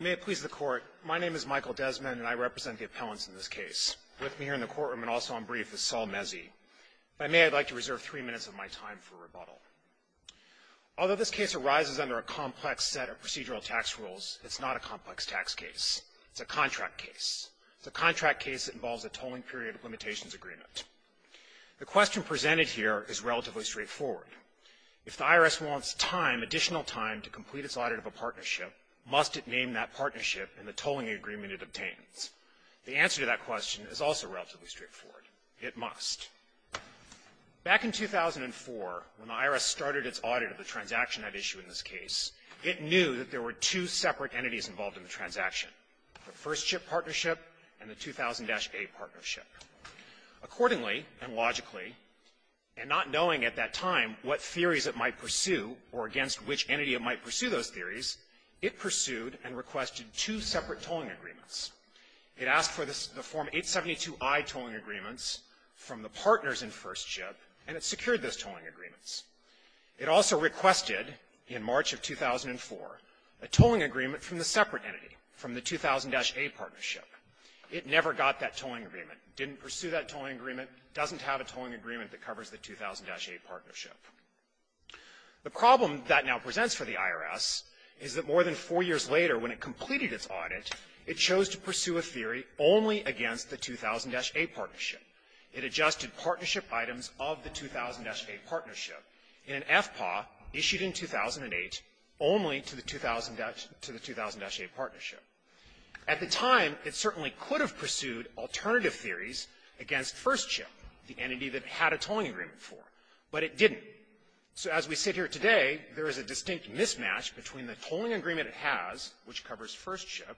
May it please the Court. My name is Michael Desmond, and I represent the appellants in this case. With me here in the courtroom and also on brief is Saul Mezzi. If I may, I'd like to reserve three minutes of my time for rebuttal. Although this case arises under a complex set of procedural tax rules, it's not a complex tax case. It's a contract case. It's a contract case that involves a tolling period of limitations agreement. The question presented here is relatively straightforward. If the IRS wants time, additional time, to complete its audit of a partnership, must it name that partnership in the tolling agreement it obtains? The answer to that question is also relatively straightforward. It must. Back in 2004, when the IRS started its audit of the transaction at issue in this case, it knew that there were two separate entities involved in the transaction, the first chip partnership and the 2000-A partnership. Accordingly and logically, and not knowing at that time what theories it might pursue or against which entity it might pursue those theories, it pursued and requested two separate tolling agreements. It asked for the Form 872i tolling agreements from the partners in first chip, and it secured those tolling agreements. It also requested in March of 2004 a tolling agreement from the separate entity, from the 2000-A partnership. It never got that tolling agreement, didn't pursue that tolling agreement, doesn't have a tolling agreement that covers the 2000-A partnership. The problem that now presents for the IRS is that more than four years later, when it completed its audit, it chose to pursue a theory only against the 2000-A partnership. It adjusted partnership items of the 2000-A partnership in an FPAW issued in 2008 only to the 2000-A partnership. At the time, it certainly could have pursued alternative theories against first chip, the entity that it had a tolling agreement for, but it didn't. So as we sit here today, there is a distinct mismatch between the tolling agreement it has, which covers first chip,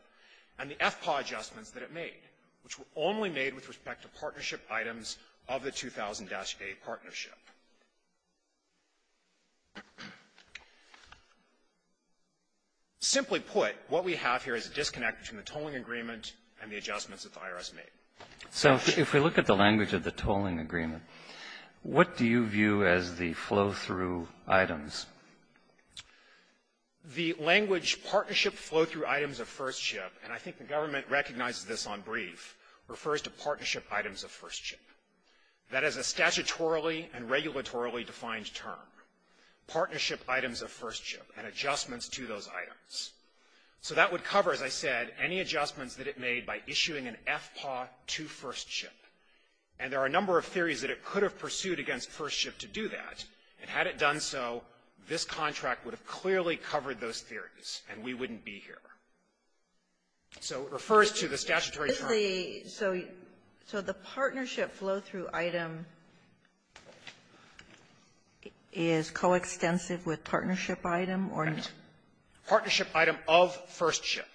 and the FPAW adjustments that it made, which were only made with respect to partnership items of the 2000-A partnership. Simply put, what we have here is a disconnect between the tolling agreement and the adjustments that the IRS made. Roberts. So if we look at the language of the tolling agreement, what do you view as the flow-through items? Fisher. The language, partnership flow-through items of first chip, and I think the government recognizes this on brief, refers to partnership items of first chip. That is a statutorily and regulatorily defined term. Partnership items of first chip and adjustments to those items. So that would cover, as I said, any adjustments that it made by issuing an FPAW to first chip. And there are a number of theories that it could have pursued against first chip to do that, and had it done so, this contract would have clearly covered those theories, and we wouldn't be here. So it refers to the statutory term. Kagan. So the partnership flow-through item is coextensive with partnership item or not? Fisher. Partnership item of first chip,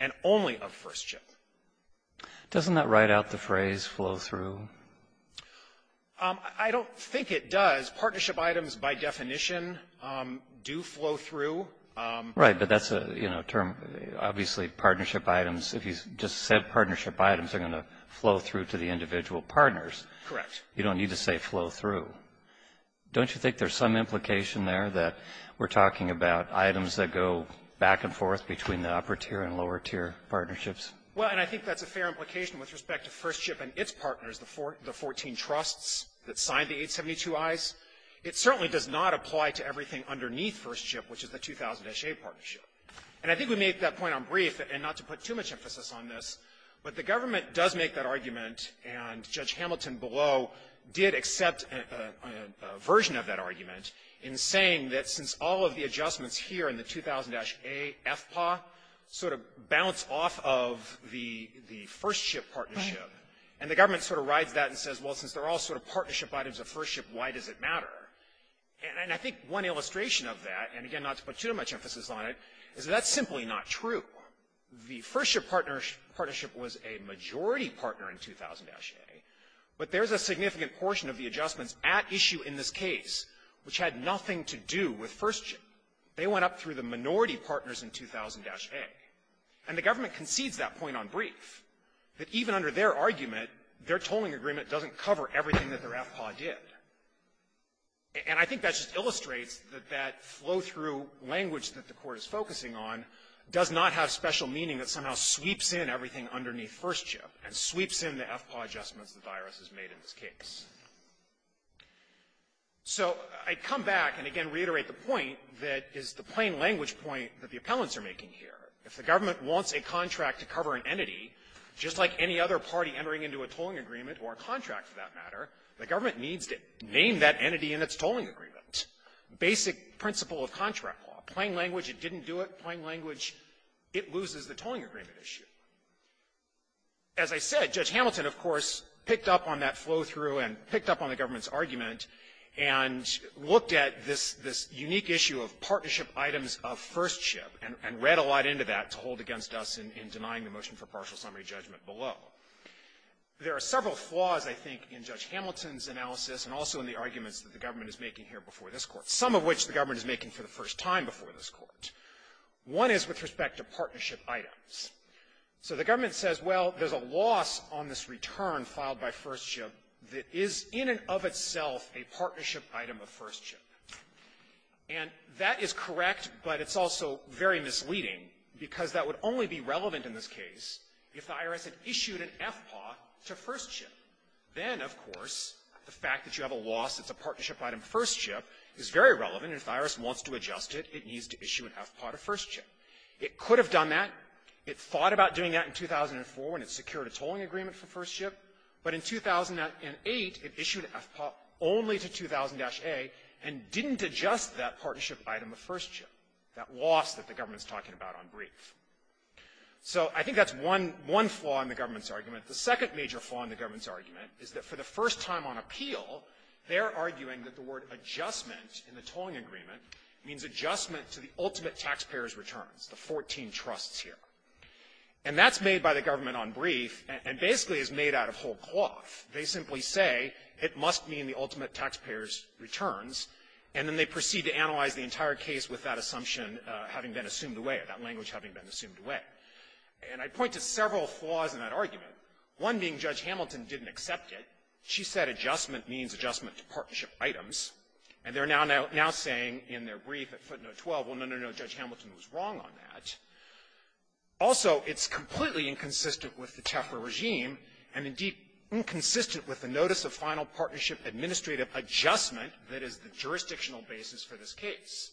and only of first chip. Kagan. Doesn't that write out the phrase flow-through? Fisher. I don't think it does. Partnership items, by definition, do flow through. Kagan. Right. But that's a, you know, term. Obviously, partnership items, if you just said partnership items, are going to flow through to the individual partners. Fisher. Correct. Kagan. You don't need to say flow-through. Don't you think there's some implication there that we're talking about items that go back and forth between the upper-tier and lower-tier partnerships? Fisher. Well, and I think that's a fair implication with respect to first chip and its partners, the 14 trusts that signed the 872Is. It certainly does not apply to everything underneath first chip, which is the 2000-A partnership. And I think we But the government does make that argument, and Judge Hamilton below did accept a version of that argument in saying that since all of the adjustments here in the 2000-A FPAW sort of bounce off of the first chip partnership, and the government sort of rides that and says, well, since they're all sort of partnership items of first chip, why does it matter? And I think one illustration of that, and again, not to put too much emphasis on it, is that that's simply not true. The first chip partnership was a majority partner in 2000-A, but there's a significant portion of the adjustments at issue in this case which had nothing to do with first chip. They went up through the minority partners in 2000-A. And the government concedes that point on brief, that even under their argument, their tolling agreement doesn't cover everything that their FPAW did. And I think that just illustrates that that flow-through language that the Court is focusing on does not have special meaning that somehow sweeps in everything underneath first chip, and sweeps in the FPAW adjustments the virus has made in this case. So I come back and, again, reiterate the point that is the plain language point that the appellants are making here. If the government wants a contract to cover an entity, just like any other party entering into a tolling agreement, or a contract for that matter, the government needs to name that entity in its tolling agreement. Basic principle of contract law. Plain language, it didn't do it. Plain language, it loses the tolling agreement issue. As I said, Judge Hamilton, of course, picked up on that flow-through, and picked up on the government's argument, and looked at this unique issue of partnership items of first chip, and read a lot into that to hold against us in denying the motion for partial summary judgment below. There are several flaws, I think, in Judge Hamilton's analysis, and also in the court, some of which the government is making for the first time before this court. One is with respect to partnership items. So the government says, well, there's a loss on this return filed by first chip that is in and of itself a partnership item of first chip. And that is correct, but it's also very misleading, because that would only be relevant in this case if the IRS had issued an FPAW to first chip. Then, of course, the fact that you have a loss, it's a partnership item of first chip, is very relevant. If the IRS wants to adjust it, it needs to issue an FPAW to first chip. It could have done that. It thought about doing that in 2004, when it secured a tolling agreement for first chip. But in 2008, it issued an FPAW only to 2000-A, and didn't adjust that partnership item of first chip, that loss that the government's talking about on brief. So I think that's one flaw in the government's argument. The second major flaw in the government's argument is that for the first time on brief, the word adjustment in the tolling agreement means adjustment to the ultimate taxpayer's returns, the 14 trusts here. And that's made by the government on brief, and basically is made out of whole cloth. They simply say it must mean the ultimate taxpayer's returns, and then they proceed to analyze the entire case with that assumption having been assumed away, that language having been assumed away. And I point to several flaws in that argument, one being Judge Hamilton didn't accept it. She said adjustment means adjustment to partnership items. And they're now saying in their brief at footnote 12, well, no, no, no, Judge Hamilton was wrong on that. Also, it's completely inconsistent with the Tefra regime, and, indeed, inconsistent with the notice of final partnership administrative adjustment that is the jurisdictional basis for this case.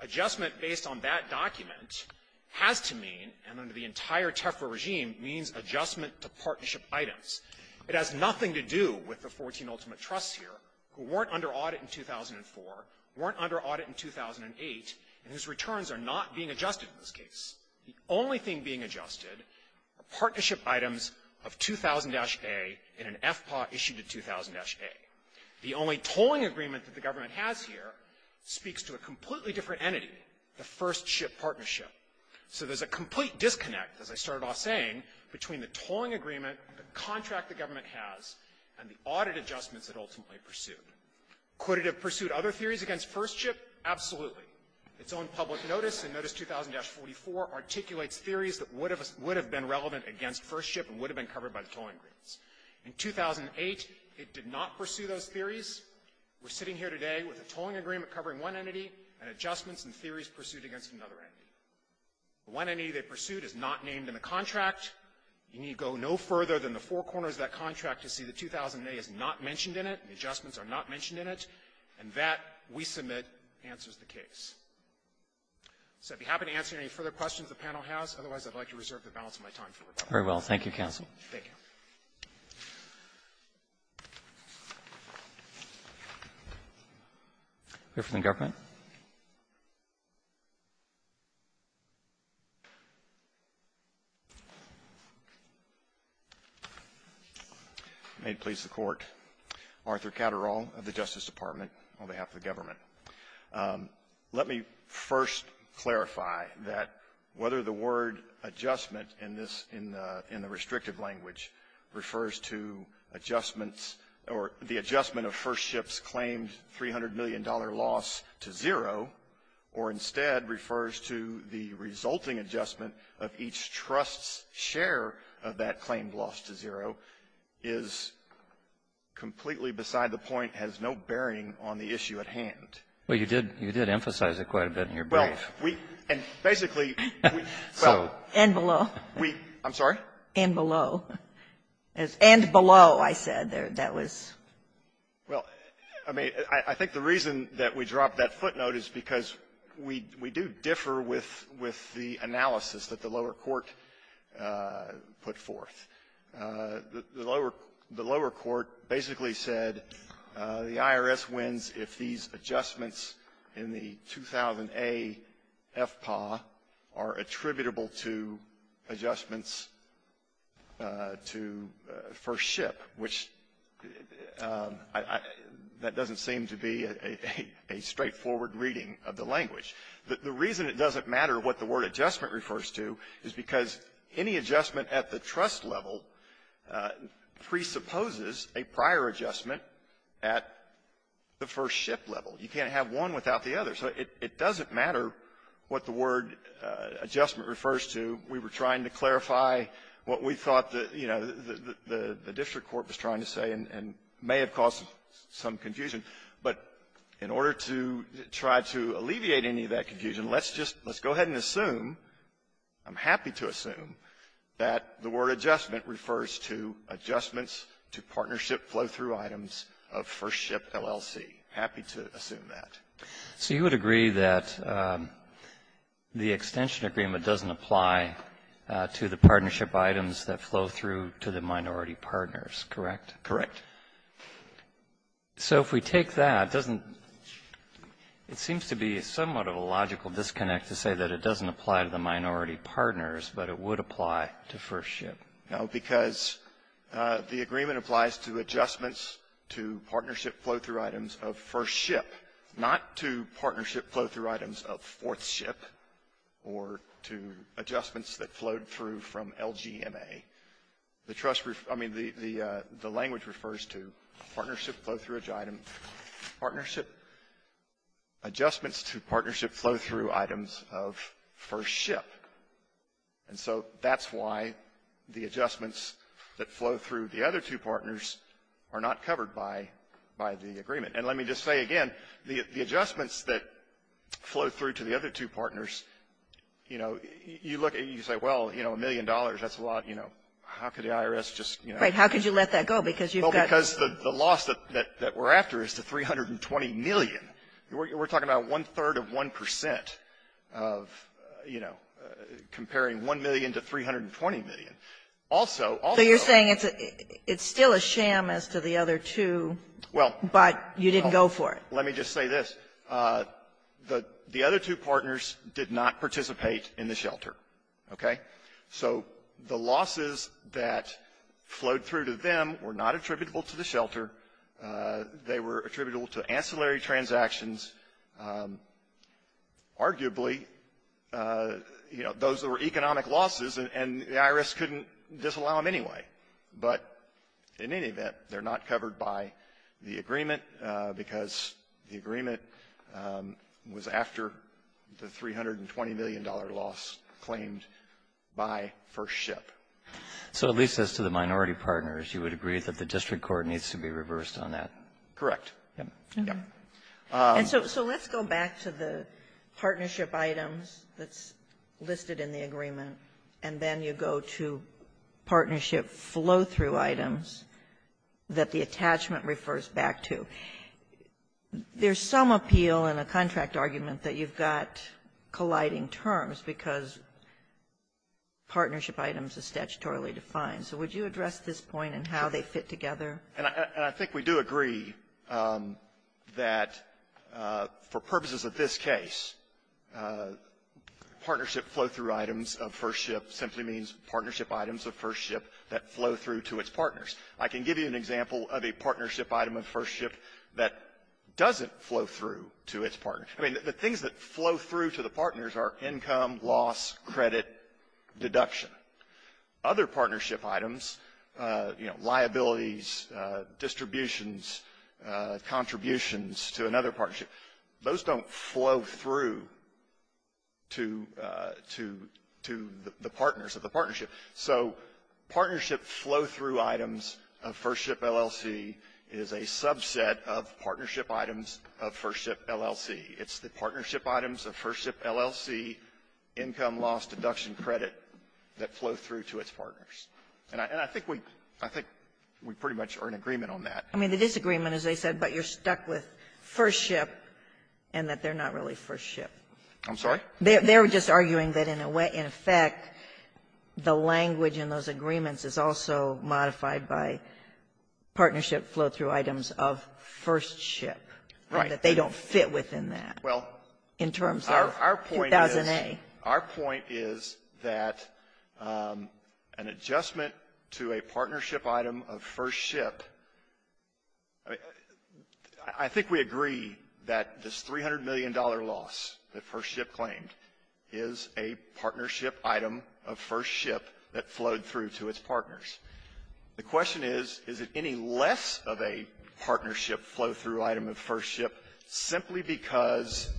Adjustment based on that document has to mean, and under the entire Tefra regime, means adjustment to partnership items. It has nothing to do with the 14 ultimate trusts here who weren't under audit in 2004, weren't under audit in 2008, and whose returns are not being adjusted in this case. The only thing being adjusted are partnership items of 2000-A in an FPA issued in 2000-A. The only tolling agreement that the government has here speaks to a completely different entity, the first ship partnership. So there's a complete disconnect, as I started off saying, between the tolling agreement, the contract the government has, and the audit adjustments that ultimately pursued. Could it have pursued other theories against first ship? Absolutely. Its own public notice in notice 2000-44 articulates theories that would have been relevant against first ship and would have been covered by the tolling agreements. In 2008, it did not pursue those theories. We're sitting here today with a tolling agreement covering one entity and adjustments and theories pursued against another entity. The one entity they pursued is not named in the contract. You need to go no further than the four corners of that contract to see that 2000-A is not mentioned in it, and the adjustments are not mentioned in it. And that, we submit, answers the case. So I'd be happy to answer any further questions the panel has. Otherwise, I'd like to reserve the balance of my time for rebuttal. Roberts. Thank you, counsel. Thank you. May it please the Court. Arthur Catterall of the Justice Department on behalf of the government. Let me first clarify that whether the word adjustment in this, in the restrictive language, refers to adjustments or the adjustment of first ship's claimed $300 million loss to zero, or instead refers to the resulting adjustment of each trust's share of that claimed loss to zero, is completely beside the point, has no bearing on the issue at hand. Well, you did emphasize it quite a bit in your brief. We, and basically, we, well. And below. We, I'm sorry? And below. And below, I said there. That was. Well, I mean, I think the reason that we dropped that footnote is because we do differ with the analysis that the lower court put forth. The lower court basically said the IRS wins if these adjustments in the 2000A FPAA are attributable to adjustments to first ship, which I, that doesn't seem to be a straightforward reading of the language. The reason it doesn't matter what the word adjustment refers to is because any adjustment at the trust level presupposes a prior adjustment at the first ship level. You can't have one without the other. So it doesn't matter what the word adjustment refers to. We were trying to clarify what we thought the, you know, the district court was trying to say and may have caused some confusion. But in order to try to alleviate any of that confusion, let's just, let's go ahead and assume, I'm happy to assume, that the word adjustment refers to adjustments to partnership flow-through items of first ship LLC. I'm happy to assume that. So you would agree that the extension agreement doesn't apply to the partnership items that flow through to the minority partners, correct? Correct. So if we take that, doesn't — it seems to be somewhat of a logical disconnect to say that it doesn't apply to the minority partners, but it would apply to first ship. No, because the agreement applies to adjustments to partnership flow-through items of first ship, not to partnership flow-through items of fourth ship or to adjustments that flowed through from LGMA. The trust — I mean, the language refers to partnership flow-through item — partnership adjustments to partnership flow-through items of first ship. And so that's why the adjustments that flow through the other two partners are not covered by the agreement. And let me just say again, the adjustments that flow through to the other two partners, you know, you look and you say, well, you know, a million dollars, that's a lot. You know, how could the IRS just, you know — Right. How could you let that go? Because you've got — Because the loss that we're after is the $320 million. We're talking about one-third of 1 percent of, you know, comparing $1 million to $320 million. Also — So you're saying it's still a sham as to the other two, but you didn't go for it. Well, let me just say this. The other two partners did not participate in the shelter, okay? So the losses that flowed through to them were not attributable to the shelter. They were attributable to ancillary transactions. Arguably, you know, those were economic losses, and the IRS couldn't disallow them anyway. But in any event, they're not covered by the agreement because the agreement was after the $320 million loss claimed by First Ship. So at least as to the minority partners, you would agree that the district court needs to be reversed on that? Correct. Yeah. Yeah. And so let's go back to the partnership items that's listed in the agreement, and then you go to partnership flow-through items that the attachment refers back to. There's some appeal in a contract argument that you've got colliding terms because partnership items are statutorily defined. So would you address this point in how they fit together? And I think we do agree that for purposes of this case, partnership flow-through items of First Ship simply means partnership items of First Ship that flow through to its partners. I can give you an example of a partnership item of First Ship that doesn't flow through to its partners. I mean, the things that flow through to the partners are income, loss, credit, deduction. Other partnership items, you know, liabilities, distributions, contributions to another partnership, those don't flow through to the partners of the partnership. So partnership flow-through items of First Ship LLC is a subset of partnership items of First Ship LLC. It's the partnership items of First Ship LLC, income, loss, deduction, credit, that flow through to its partners. And I think we pretty much are in agreement on that. I mean, the disagreement is they said, but you're stuck with First Ship and that they're not really First Ship. I'm sorry? They're just arguing that in effect, the language in those agreements is also modified by partnership flow-through items of First Ship, that they don't fit within that in terms of 2000A. Our point is that an adjustment to a partnership item of First Ship, I think we agree that this $300 million loss that First Ship claimed is a partnership item of First Ship that flowed through to its partners. The question is, is it any less of a partnership flow-through item of First Ship simply because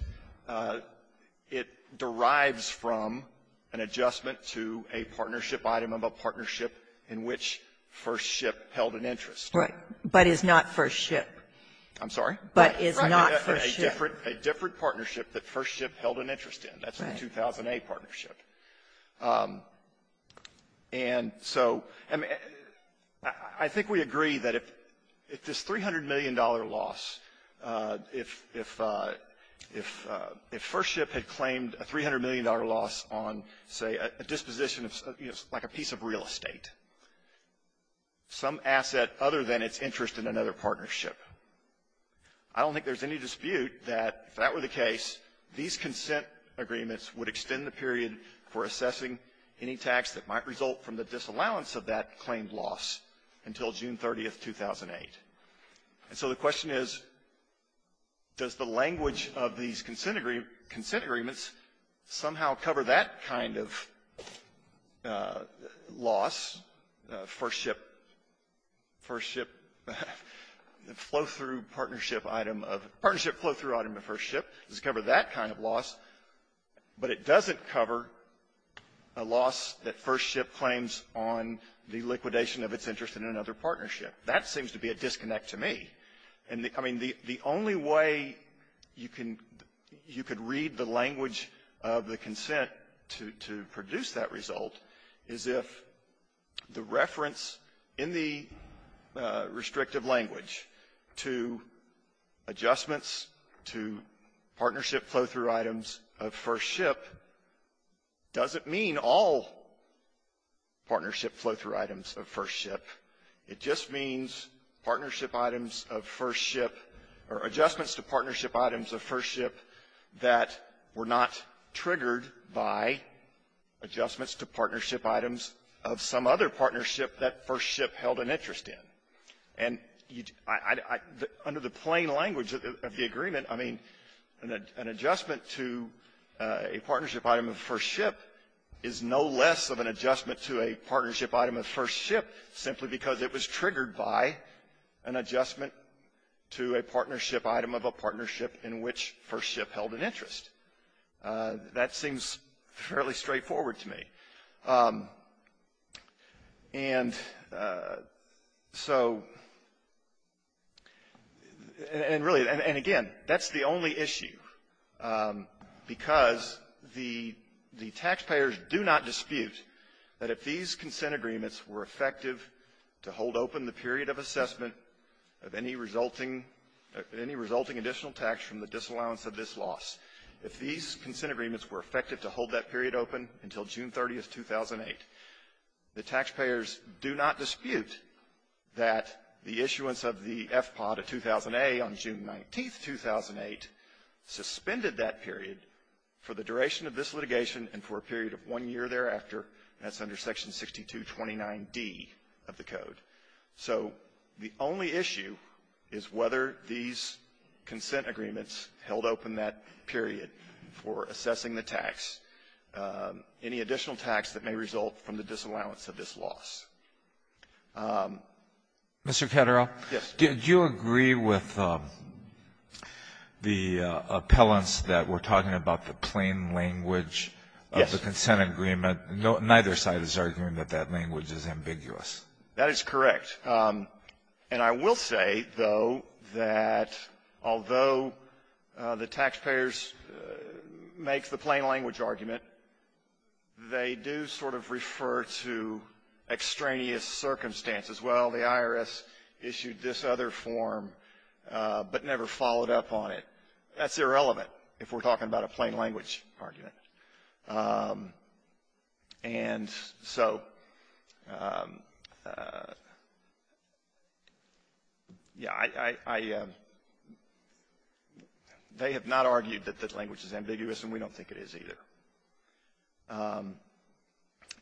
it derives from an adjustment to a partnership item of a partnership in which First Ship held an interest? Right. But is not First Ship. I'm sorry? But is not First Ship. A different partnership that First Ship held an interest in. That's the 2000A partnership. And so, I mean, I think we agree that if this $300 million loss, if First Ship had claimed a $300 million loss on, say, a disposition of, you know, like a piece of I don't think there's any dispute that if that were the case, these consent agreements would extend the period for assessing any tax that might result from the disallowance of that claimed loss until June 30th, 2008. And so the question is, does the language of these consent agreements somehow cover that kind of loss, First Ship, First Ship flow-through partnership item of partnership flow-through item of First Ship, does it cover that kind of loss, but it doesn't cover a loss that First Ship claims on the liquidation of its interest in another partnership? That seems to be a disconnect to me. And, I mean, the only way you can read the language of the consent to produce that result is if the reference in the restrictive language to adjustments to partnership flow-through items of First Ship doesn't mean all partnership flow-through items of First Ship. It just means partnership items of First Ship. of First Ship or adjustments to partnership items of First Ship that were not triggered by adjustments to partnership items of some other partnership that First Ship held an interest in. And I under the plain language of the agreement, I mean, an adjustment to a partnership item of First Ship is no less of an adjustment to a partnership item of First Ship simply because it was triggered by an adjustment to a partnership item of a partnership in which First Ship held an interest. That seems fairly straightforward to me. And so, and really, and again, that's the only issue, because the taxpayers do not dispute that if these consent agreements were to be produced effective to hold open the period of assessment of any resulting additional tax from the disallowance of this loss, if these consent agreements were effective to hold that period open until June 30th, 2008, the taxpayers do not dispute that the issuance of the FPOD of 2000A on June 19th, 2008, suspended that period for the duration of this litigation and for a period of one year thereafter, and that's under Section 6229D of the Code. So the only issue is whether these consent agreements held open that period for assessing the tax, any additional tax that may result from the disallowance of this loss. Alito, did you agree with the appellants that we're talking about the plain language of the consent agreement? Yes. Neither side is arguing that that language is ambiguous. That is correct. And I will say, though, that although the taxpayers make the plain language argument, they do sort of refer to extraneous circumstances. Well, the IRS issued this other form but never followed up on it. That's irrelevant if we're talking about a plain language argument. And so, yeah, they have not argued that this language is ambiguous, and we don't think it is either.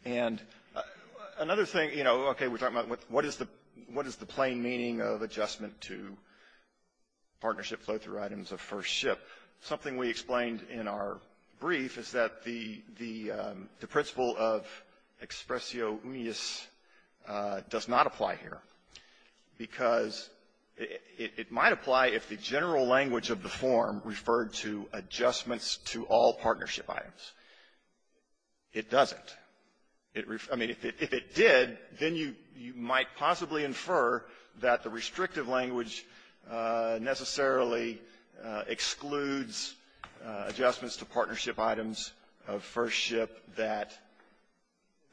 And another thing, you know, okay, we're talking about what is the plain meaning of adjustment to partnership flow-through items of first ship. Something we explained in our brief is that the principle of expressio unius does not apply here because it might apply if the general language of the form referred to adjustments to all partnership items. It doesn't. If it did, then you might possibly infer that the restrictive language necessarily excludes adjustments to partnership items of first ship that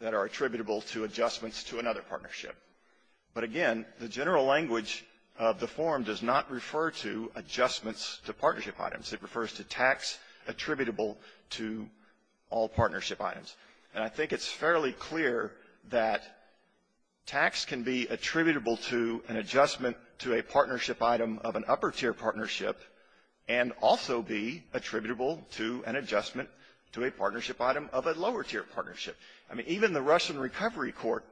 are attributable to adjustments to another partnership. But again, the general language of the form does not refer to adjustments to partnership items. It refers to tax attributable to all partnership items. And I think it's fairly clear that tax can be attributable to an adjustment to a partnership item of an upper-tier partnership and also be attributable to an adjustment to a partnership item of a lower-tier partnership. I mean, even the Russian recovery court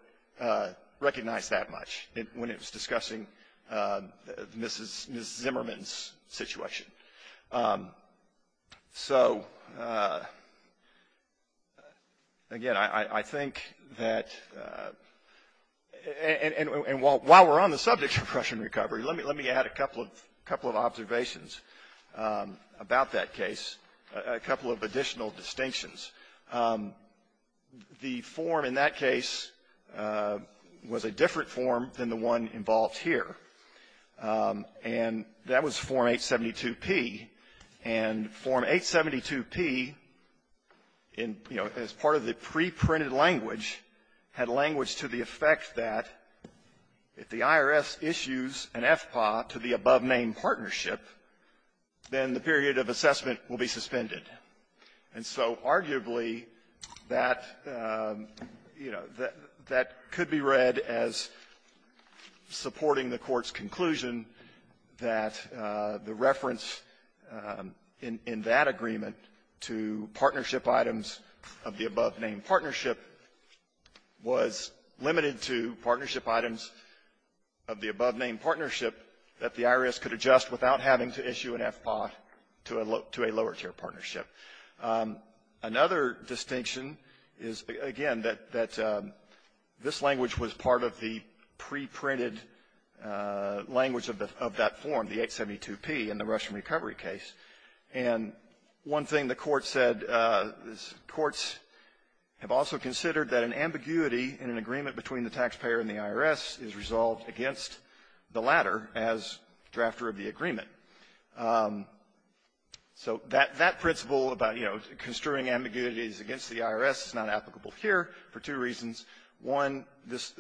recognized that much when it was discussing Mrs. Zimmerman's situation. So, again, I think that, and while we're on the subject of Russian recovery, let me add a couple of observations about that case, a couple of additional distinctions. The form in that case was a different form than the one involved here, and that was Form 872P. And Form 872P, in, you know, as part of the preprinted language, had language to the effect that if the IRS issues an FPA to the above-name partnership, then the period of assessment will be suspended. And so arguably, that, you know, that could be read as supporting the Court's The reference in that agreement to partnership items of the above-name partnership was limited to partnership items of the above-name partnership that the IRS could adjust without having to issue an FPA to a lower-tier partnership. Another distinction is, again, that this language was part of the preprinted language of that form, the 872P, in the Russian recovery case. And one thing the Court said is courts have also considered that an ambiguity in an agreement between the taxpayer and the IRS is resolved against the latter as drafter of the agreement. So that principle about, you know, construing ambiguities against the IRS is not applicable here for two reasons. One, this,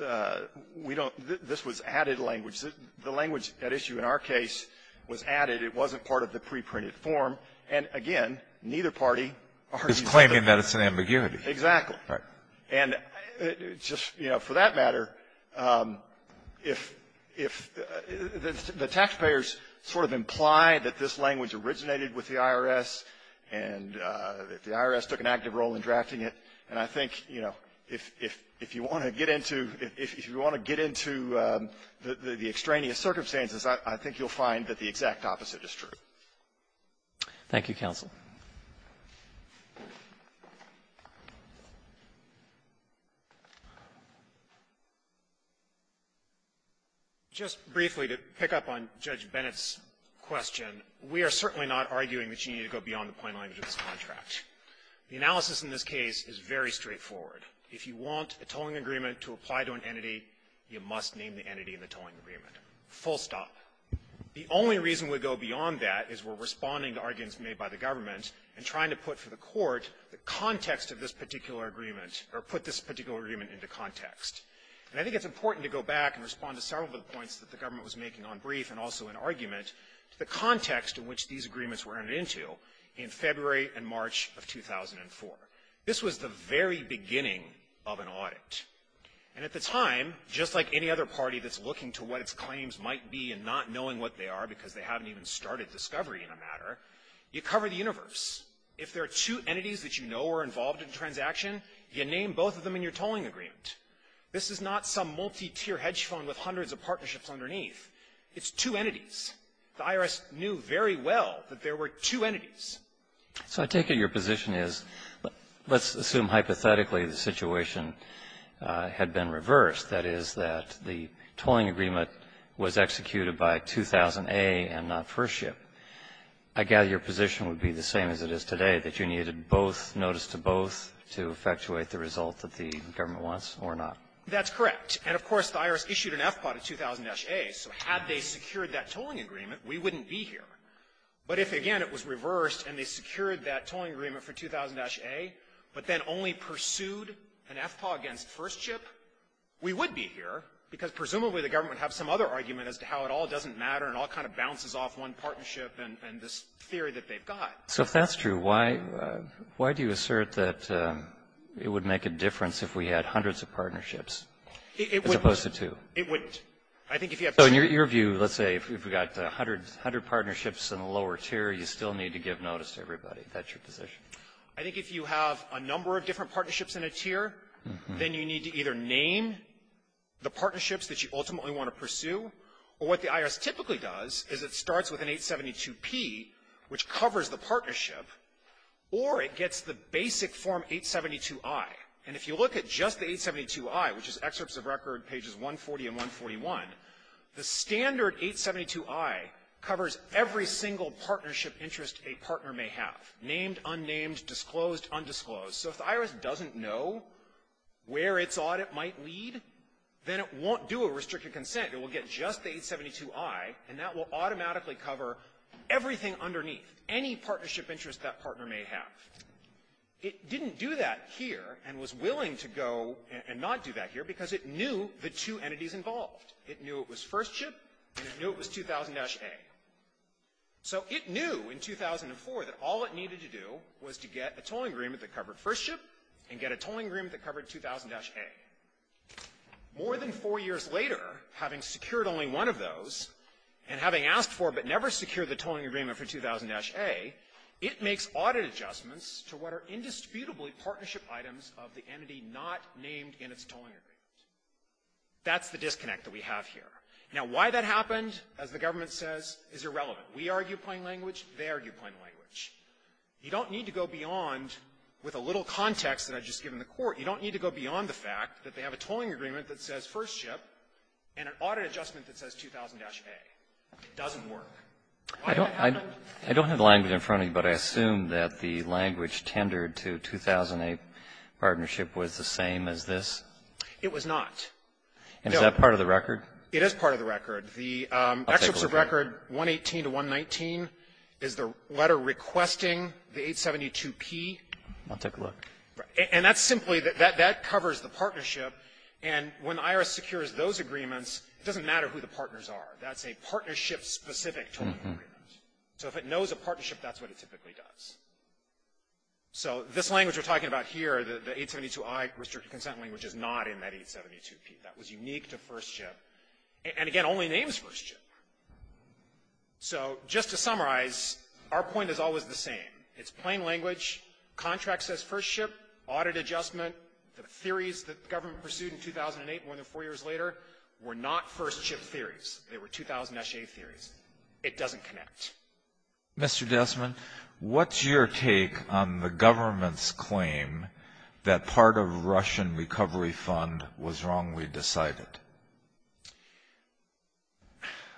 we don't, this was added language. The language at issue in our case was added. It wasn't part of the preprinted form. And, again, neither party argues that the other one is. Alitoson is claiming that it's an ambiguity. Exactly. Right. And just, you know, for that matter, if the taxpayers sort of imply that this language originated with the IRS and that the IRS took an active role in drafting it, and I think, you know, if you want to get into, if you want to get into the extraneous circumstances, I think you'll find that the exact opposite is true. Thank you, counsel. Just briefly, to pick up on Judge Bennett's question, we are certainly not arguing that you need to go beyond the plain language of this contract. The analysis in this case is very straightforward. If you want a tolling agreement to apply to an entity, you must name the entity in the tolling agreement. Full stop. The only reason we go beyond that is we're responding to arguments made by the government and trying to put for the Court the context of this particular agreement, or put this particular agreement into context. And I think it's important to go back and respond to several of the points that the government was making on brief and also in argument to the context in which these of 2004. This was the very beginning of an audit, and at the time, just like any other party that's looking to what its claims might be and not knowing what they are because they haven't even started discovery in a matter, you cover the universe. If there are two entities that you know were involved in a transaction, you name both of them in your tolling agreement. This is not some multi-tier hedge fund with hundreds of partnerships underneath. The IRS knew very well that there were two entities. So I take it your position is let's assume hypothetically the situation had been reversed. That is, that the tolling agreement was executed by 2000A and not FirstShip. I gather your position would be the same as it is today, that you needed both notice to both to effectuate the result that the government wants or not. That's correct. And of course, the IRS issued an FPA to 2000-A. So had they secured that tolling agreement, we wouldn't be here. But if, again, it was reversed and they secured that tolling agreement for 2000-A, but then only pursued an FPA against FirstShip, we would be here because presumably the government would have some other argument as to how it all doesn't matter and all kind of bounces off one partnership and this theory that they've got. So if that's true, why do you assert that it would make a difference if we had hundreds of partnerships as opposed to two? It would. I think if you have two. So in your view, let's say if we've got a hundred partnerships in the lower tier, you still need to give notice to everybody. Is that your position? I think if you have a number of different partnerships in a tier, then you need to either name the partnerships that you ultimately want to pursue, or what the IRS typically does is it starts with an 872P, which covers the partnership, or it gets the basic Form 872I. And if you look at just the 872I, which is excerpts of record pages 140 and 141, the standard 872I covers every single partnership interest a partner may have, named, unnamed, disclosed, undisclosed. So if the IRS doesn't know where its audit might lead, then it won't do a restricted consent. It will get just the 872I, and that will automatically cover everything underneath, any partnership interest that partner may have. It didn't do that here and was willing to go and not do that here because it knew the two entities involved. It knew it was First Ship, and it knew it was 2000-A. So it knew in 2004 that all it needed to do was to get a tolling agreement that covered First Ship and get a tolling agreement that covered 2000-A. More than four years later, having secured only one of those, and having asked for but never secured the tolling agreement for 2000-A, it makes audit adjustments to what are indisputably partnership items of the entity not named in its tolling agreement. That's the disconnect that we have here. Now, why that happened, as the government says, is irrelevant. We argue plain language. They argue plain language. You don't need to go beyond, with a little context that I've just given the Court, you don't need to go beyond the fact that they have a tolling agreement that says First Ship and an audit adjustment that says 2000-A. It doesn't work. Why that happened? I don't have the language in front of me, but I assume that the language tendered to 2000-A partnership was the same as this? It was not. And is that part of the record? It is part of the record. The excerpt of record 118 to 119 is the letter requesting the 872P. I'll take a look. And that's simply that that covers the partnership. And when IRS secures those agreements, it doesn't matter who the partners are. That's a partnership-specific tolling agreement. So if it knows a partnership, that's what it typically does. So this language we're talking about here, the 872I restricted consent language, is not in that 872P. That was unique to First Ship and, again, only names First Ship. So just to summarize, our point is always the same. It's plain language. Contract says First Ship. Audit adjustment. The theories that the government pursued in 2008, more than four years later, were not First Ship theories. They were 2000SA theories. It doesn't connect. Mr. Desmond, what's your take on the government's claim that part of Russian Recovery Fund was wrongly decided?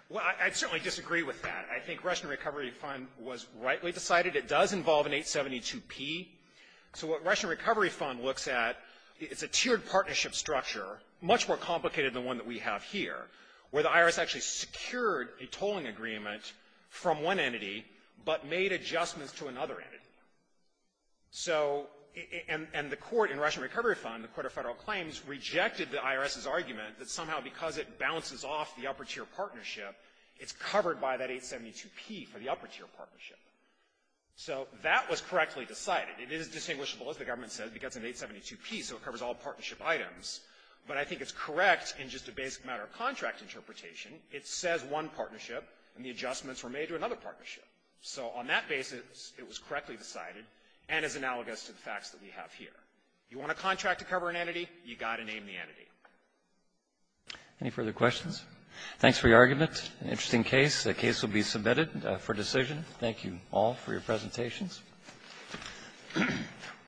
Well, I certainly disagree with that. I think Russian Recovery Fund was rightly decided. It does involve an 872P. So what Russian Recovery Fund looks at, it's a tiered partnership structure, much more complicated than one that we have here, where the IRS actually secured a tolling agreement from one entity, but made adjustments to another entity. So, and the court in Russian Recovery Fund, the Court of Federal Claims, rejected the IRS's argument that somehow because it bounces off the upper tier partnership, it's covered by that 872P for the upper tier partnership. So that was correctly decided. It is distinguishable, as the government said, because of the 872P, so it covers all partnership items. But I think it's correct in just a basic matter of contract interpretation. It says one partnership, and the adjustments were made to another partnership. So on that basis, it was correctly decided, and is analogous to the facts that we have here. You want a contract to cover an entity, you got to name the entity. Any further questions? Thanks for your argument. Interesting case. The case will be submitted for decision. Thank you all for your presentations.